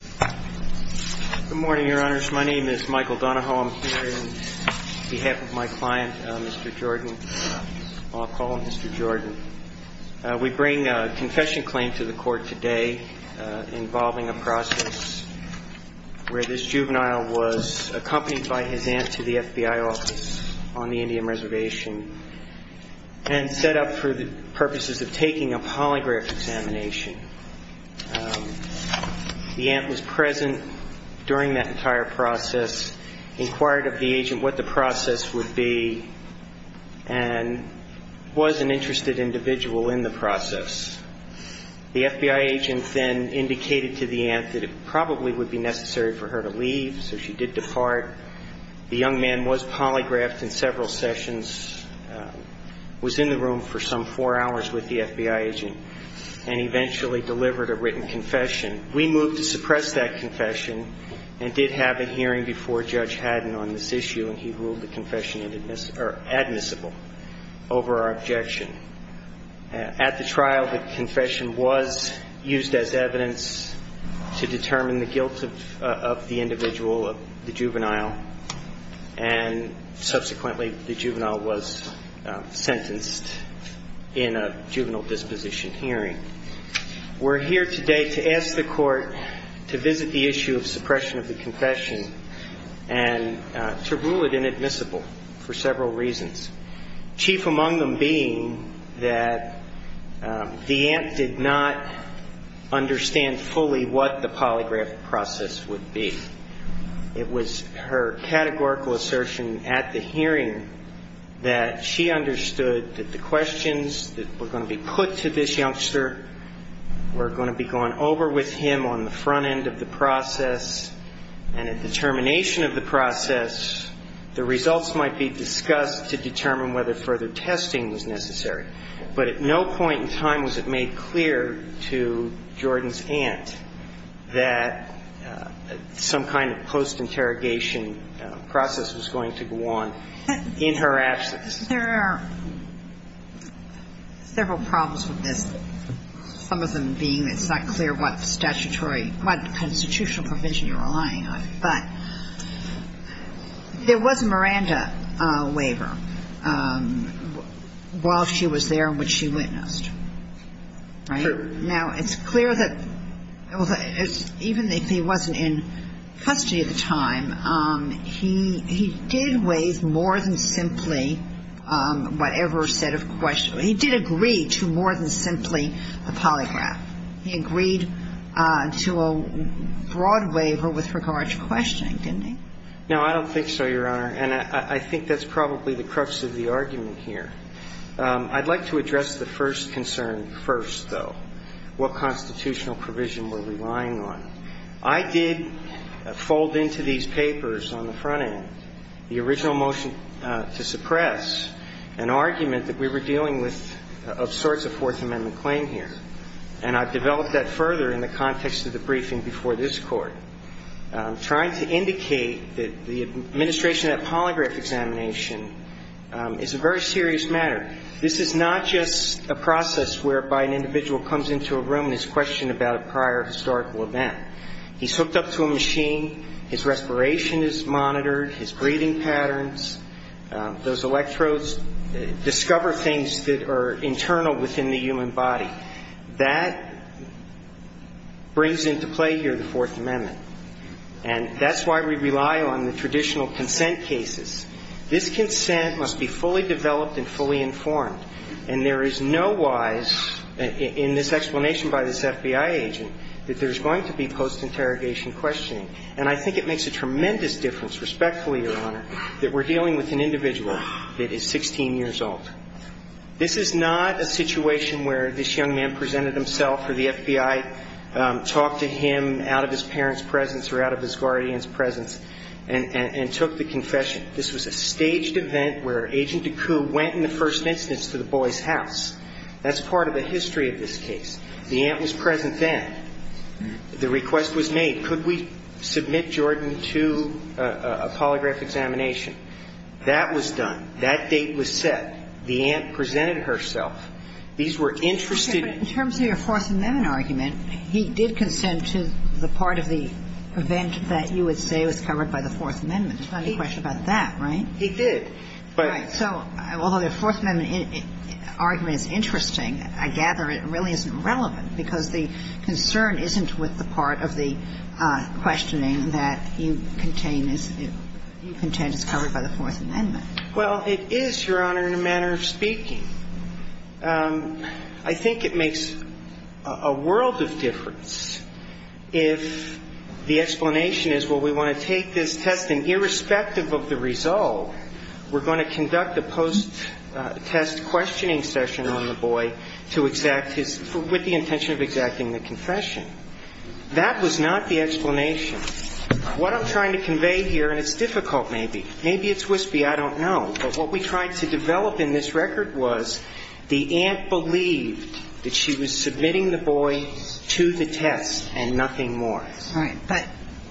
Good morning, your honors. My name is Michael Donahoe. I'm here on behalf of my client, Mr. Jordan. I'll call him Mr. Jordan. We bring a confession claim to the court today involving a process where this juvenile was accompanied by his aunt to the FBI office on the Indian Reservation and set up for the purposes of taking a polygraph examination. The aunt was present during that entire process, inquired of the agent what the process would be, and was an interested individual in the process. The FBI agent then indicated to the aunt that it probably would be necessary for her to leave, so she did depart. The young man was polygraphed in several sessions, was in the room for some four hours with the FBI agent, and eventually delivered a written confession. We moved to suppress that confession and did have a hearing before Judge McCormick to determine the guilt of the individual, of the juvenile, and subsequently the juvenile was sentenced in a juvenile disposition hearing. We're here today to ask the court to visit the issue of suppression of the confession and to rule it inadmissible for several reasons, chief among them being that the aunt did not understand fully what the polygraph process would be. It was her categorical assertion at the hearing that she understood that the questions that were going to be put to this youngster were going to be gone over with him on the front end of the process, and at the termination of the process, but at no point in time was it made clear to Jordan's aunt that some kind of post-interrogation process was going to go on in her absence. There are several problems with this, some of them being it's not clear what statutory, what constitutional provision you're relying on, but there was a Miranda waiver while she was there and which she witnessed, right? Now, it's clear that even if he wasn't in custody at the time, he did waive more than simply whatever set of questions he did agree to more than simply the polygraph. He agreed to a broad waiver with regard to questioning, didn't he? No, I don't think so, Your Honor, and I think that's probably the crux of the argument here. I'd like to address the first concern first, though, what constitutional provision we're relying on. I did fold into these papers on the front end the original motion to suppress an argument that we were dealing with of sorts of Fourth Amendment claim here, and I've developed that further in the context of the briefing before this Court, trying to indicate that the administration of that polygraph examination is a very serious matter. This is not just a process whereby an individual comes into a room and is questioned about a prior historical event. He's hooked up to a machine, his respiration is monitored, his breathing patterns, those electrodes discover things that are internal within the human body. That brings into play here the Fourth Amendment, and that's why we rely on the traditional consent cases. This consent must be fully developed and fully informed, and there is no wise, in this explanation by this FBI agent, that there's going to be post-interrogation questioning. And I think it makes a tremendous difference, respectfully, Your Honor, that we're dealing with an individual that is 16 years old. This is not a situation where this young man presented himself or the FBI talked to him out of his parents' presence or out of his guardian's presence and took the confession. This was a staged event where Agent Deku went in the first instance to the boy's house. That's part of the history of this case. The aunt was present then. The request was made, could we submit Jordan to a polygraph examination? That was done. That date was set. The aunt presented herself. These were interested in the case. And I think it makes a tremendous difference, respectfully, Your Honor, that we're dealing with an individual that is 16 years old. And I think it makes a tremendous difference, respectfully, Your Honor, that we're dealing with an individual that is 16 years old. In retrospective of the result, we're going to conduct a post-test questioning session on the boy to exact his – with the intention of exacting the confession. That was not the explanation. What I'm trying to convey here – and it's difficult, maybe. Maybe it's wispy. I don't know. But what we tried to develop in this record was the aunt believed that she was submitting the boy to the test and nothing more. All right. But the same reason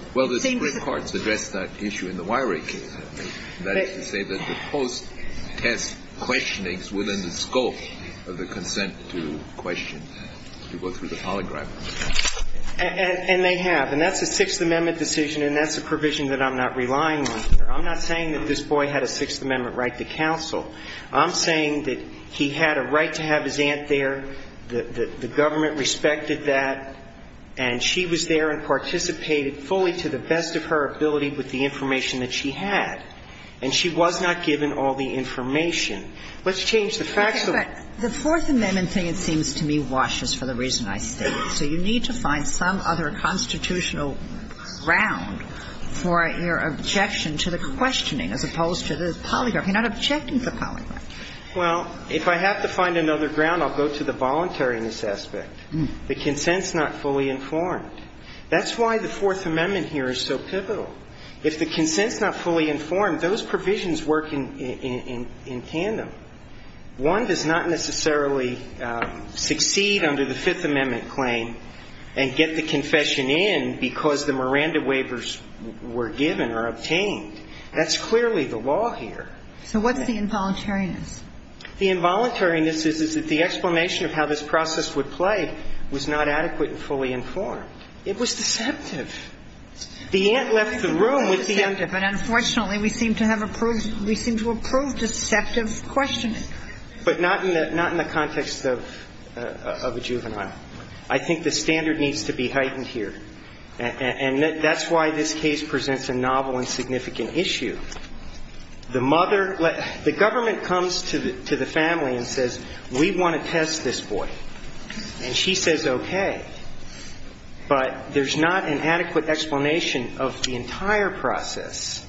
– Well, the Supreme Court's addressed that issue in the Wyrick case. That is to say that the post-test questionings were within the scope of the consent to question, to go through the polygraph. And they have. And that's a Sixth Amendment decision, and that's a provision that I'm not relying on here. I'm not saying that this boy had a Sixth Amendment right to counsel. I'm saying that he had a right to have his aunt there, the government respected that, and she was there and participated fully to the best of her ability with the information that she had. And she was not given all the information. Let's change the facts a little. But the Fourth Amendment thing, it seems to me, washes for the reason I stated. So you need to find some other constitutional ground for your objection to the questioning as opposed to the polygraph. You're not objecting to the polygraph. Well, if I have to find another ground, I'll go to the voluntariness aspect. The consent's not fully informed. That's why the Fourth Amendment here is so pivotal. If the consent's not fully informed, those provisions work in tandem. One does not necessarily succeed under the Fifth Amendment claim and get the confession in because the Miranda waivers were given or obtained. That's clearly the law here. So what's the involuntariness? The involuntariness is that the explanation of how this process would play was not adequate and fully informed. It was deceptive. The aunt left the room with the aunt. But unfortunately, we seem to have approved the deceptive questioning. But not in the context of a juvenile. I think the standard needs to be heightened here. And that's why this case presents a novel and significant issue. The mother let the government comes to the family and says, we want to test this boy. And she says, okay. But there's not an adequate explanation of the entire process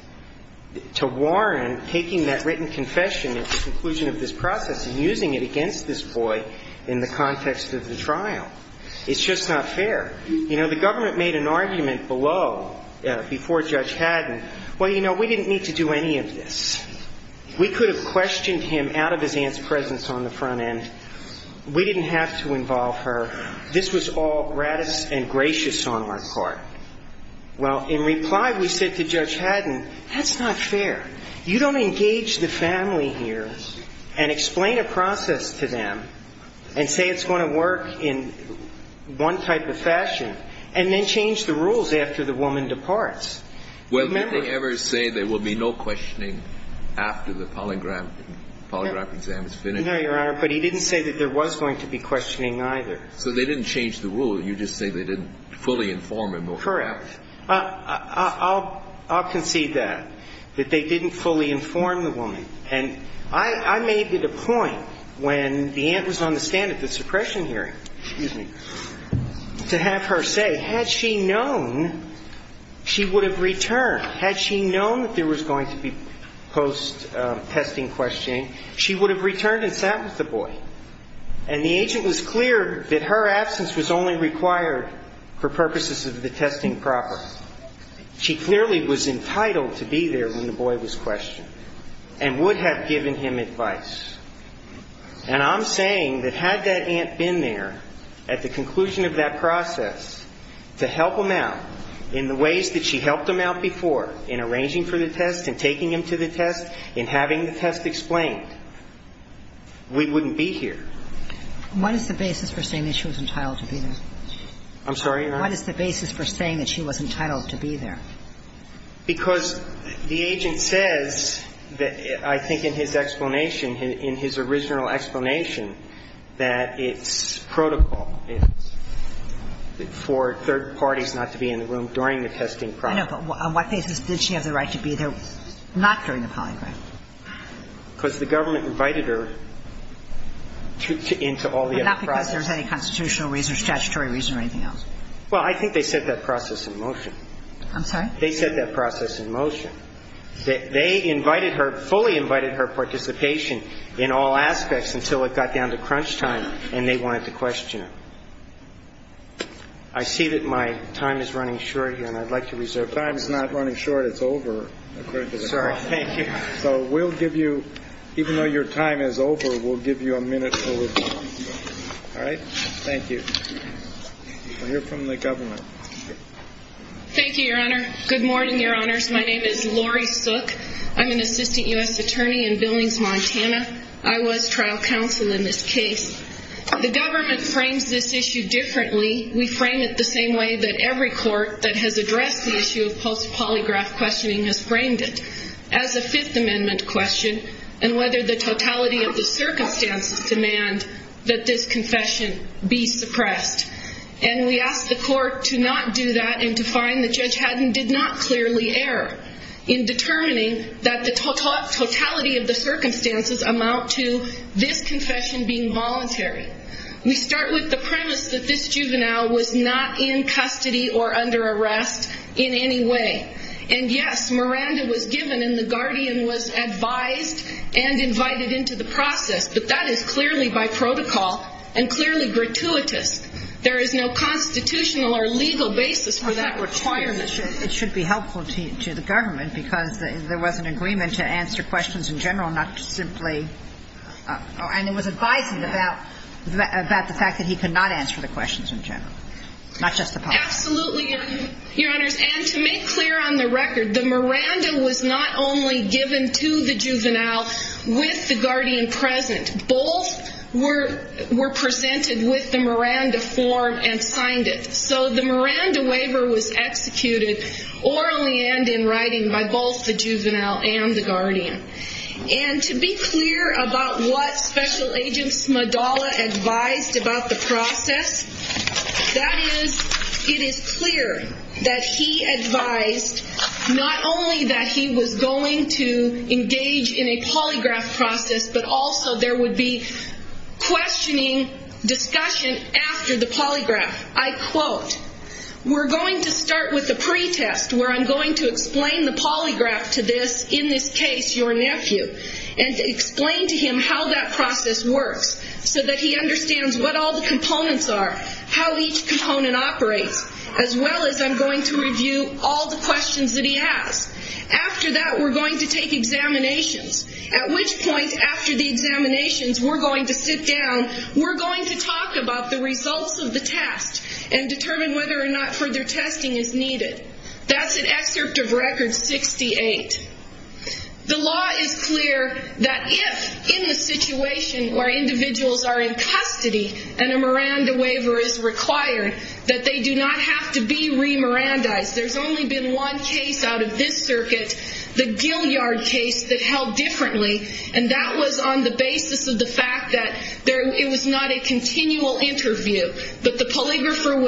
to warrant taking that written confession at the conclusion of this process and using it against this boy in the context of the trial. It's just not fair. You know, the government made an argument below before Judge Haddon, well, you know, we didn't need to do any of this. We could have questioned him out of his aunt's presence on the front end. We didn't have to involve her. This was all gratis and gracious on our part. Well, in reply, we said to Judge Haddon, that's not fair. You don't engage the family here and explain a process to them and say it's going to work in one type of fashion, and then change the rules after the woman departs. Remember? Well, did they ever say there will be no questioning after the polygraph exam is finished? No, Your Honor. But he didn't say that there was going to be questioning either. So they didn't change the rule. You just say they didn't fully inform him over that. Correct. I'll concede that, that they didn't fully inform the woman. And I made it a point when the aunt was on the stand at the suppression hearing, excuse me, to have her say, had she known she would have returned, had she known that there was going to be post-testing questioning, she would have returned and sat with the boy. And the agent was clear that her absence was only required for purposes of the testing proper. She clearly was entitled to be there when the boy was questioned. And would have given him advice. And I'm saying that had that aunt been there at the conclusion of that process to help him out in the ways that she helped him out before, in arranging for the test and taking him to the test, in having the test explained, we wouldn't be here. What is the basis for saying that she was entitled to be there? I'm sorry, Your Honor? What is the basis for saying that she was entitled to be there? Because the agent says that I think in his explanation, in his original explanation, that it's protocol for third parties not to be in the room during the testing process. I know, but on what basis did she have the right to be there not during the polygraph? Because the government invited her into all the other processes. But not because there's any constitutional reason or statutory reason or anything else? Well, I think they set that process in motion. I'm sorry? They set that process in motion. They invited her, fully invited her participation in all aspects until it got down to crunch time and they wanted to question her. I see that my time is running short here, and I'd like to reserve it. Your time is not running short. It's over. Sorry. Thank you. So we'll give you, even though your time is over, we'll give you a minute for review. All right? Thank you. We'll hear from the government. Thank you, Your Honor. Good morning, Your Honors. My name is Lori Sook. I'm an assistant U.S. attorney in Billings, Montana. I was trial counsel in this case. The government frames this issue differently. We frame it the same way that every court that has addressed the issue of post-polygraph questioning has framed it, as a Fifth Amendment question and whether the totality of the circumstances demand that this confession be suppressed. And we ask the court to not do that and to find that Judge Haddon did not clearly err in determining that the totality of the circumstances amount to this confession being voluntary. We start with the premise that this juvenile was not in custody or under arrest in any way. And, yes, Miranda was given and the guardian was advised and invited into the process, but that is clearly by protocol and clearly gratuitous. There is no constitutional or legal basis for that requirement. It should be helpful to the government because there was an agreement to answer questions in general, not simply – and it was advised about the fact that he could not answer the questions in general, not just the policy. Absolutely, Your Honors. And to make clear on the record, the Miranda was not only given to the juvenile with the guardian present. Both were presented with the Miranda form and signed it. So the Miranda waiver was executed orally and in writing by both the juvenile and the guardian. And to be clear about what Special Agent Smadala advised about the process, that is, it is clear that he advised not only that he was going to engage in a polygraph process, but also there would be questioning discussion after the polygraph. I quote, we're going to start with a pretest where I'm going to explain the polygraph to this. In this case, your nephew. And explain to him how that process works so that he understands what all the components are, how each component operates, as well as I'm going to review all the questions that he has. After that, we're going to take examinations. At which point, after the examinations, we're going to sit down. We're going to talk about the results of the test and determine whether or not further testing is needed. That's an excerpt of Record 68. The law is clear that if in the situation where individuals are in custody and a Miranda waiver is required, that they do not have to be re-Mirandaized. There's only been one case out of this circuit, the Gillyard case, that held differently. And that was on the basis of the fact that it was not a continual interview, but the polygrapher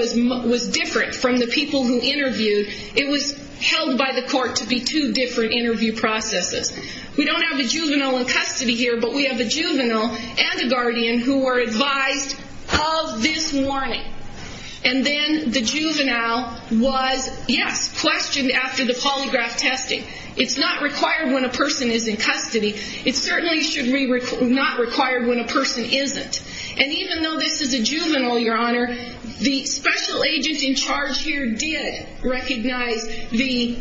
was different from the people who interviewed. It was held by the court to be two different interview processes. We don't have a juvenile in custody here, but we have a juvenile and a guardian who were advised of this warning. And then the juvenile was, yes, questioned after the polygraph testing. It's not required when a person is in custody. It certainly should not be required when a person isn't. And even though this is a juvenile, Your Honor, the special agent in charge here did recognize the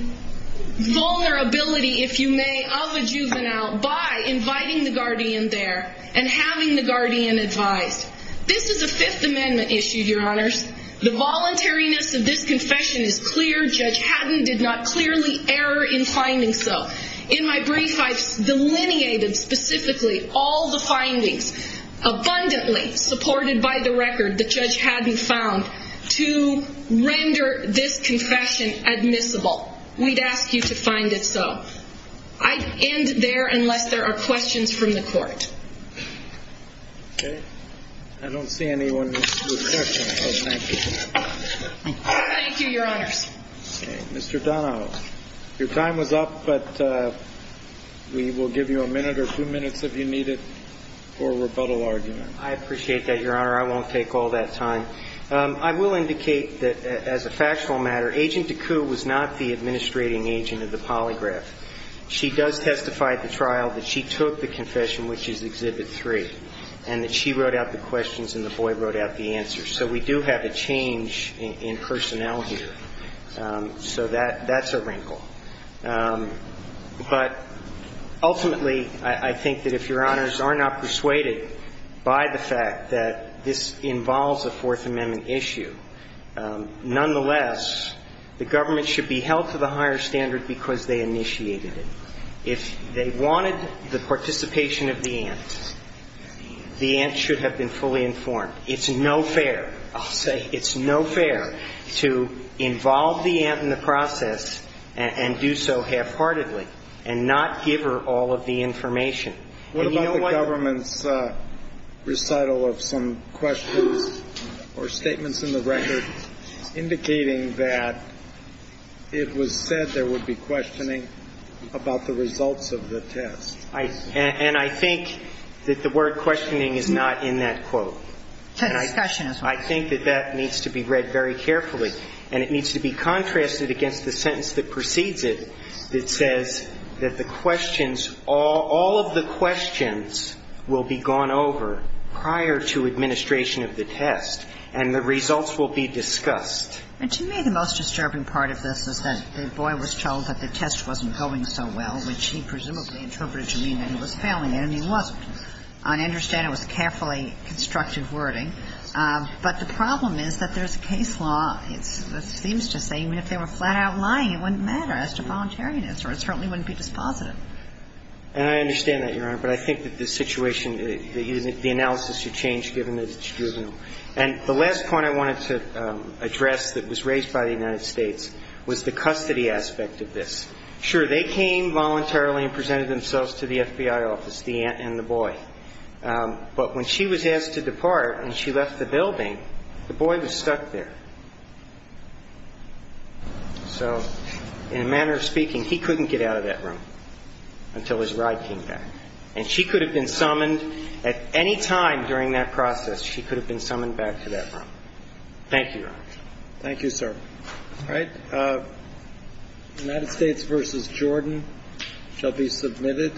vulnerability, if you may, of a juvenile by inviting the guardian there and having the guardian advised. This is a Fifth Amendment issue, Your Honors. The voluntariness of this confession is clear. Judge Hatton did not clearly err in finding so. In my brief, I've delineated specifically all the findings abundantly supported by the record that Judge Hatton found to render this confession admissible. We'd ask you to find it so. I'd end there unless there are questions from the court. Okay. I don't see anyone with questions, so thank you. Thank you, Your Honors. Okay. Mr. Donahoe, your time was up, but we will give you a minute or two minutes if you need it for a rebuttal argument. I appreciate that, Your Honor. I won't take all that time. I will indicate that, as a factual matter, Agent Deku was not the administrating agent of the polygraph. She does testify at the trial that she took the confession, which is Exhibit 3, and that she wrote out the questions and the boy wrote out the answers. So we do have a change in personnel here. So that's a wrinkle. But ultimately, I think that if Your Honors are not persuaded by the fact that this involves a Fourth Amendment issue, nonetheless, the government should be held to the higher standard because they initiated it. If they wanted the participation of the aunt, the aunt should have been fully informed. It's no fair, I'll say. It's no fair to involve the aunt in the process and do so halfheartedly and not give her all of the information. What about the government's recital of some questions or statements in the record indicating that it was said there would be questioning about the results of the test? And I think that the word questioning is not in that quote. And I think that that needs to be read very carefully. And it needs to be contrasted against the sentence that precedes it that says that the questions, all of the questions will be gone over prior to administration of the test and the results will be discussed. And to me, the most disturbing part of this is that the boy was told that the test wasn't going so well, which he presumably interpreted to mean that he was failing it. And he wasn't. I understand it was carefully constructive wording. But the problem is that there's a case law that seems to say even if they were flat-out lying, it wouldn't matter as to voluntariness or it certainly wouldn't be dispositive. And I understand that, Your Honor. But I think that the situation, the analysis should change given that it's juvenile. And the last point I wanted to address that was raised by the United States was the custody aspect of this. Sure, they came voluntarily and presented themselves to the FBI office, the aunt and the boy. But when she was asked to depart and she left the building, the boy was stuck there. So in a manner of speaking, he couldn't get out of that room until his ride came back. And she could have been summoned at any time during that process. She could have been summoned back to that room. Thank you, Your Honor. Thank you, sir. All right. United States v. Jordan shall be submitted.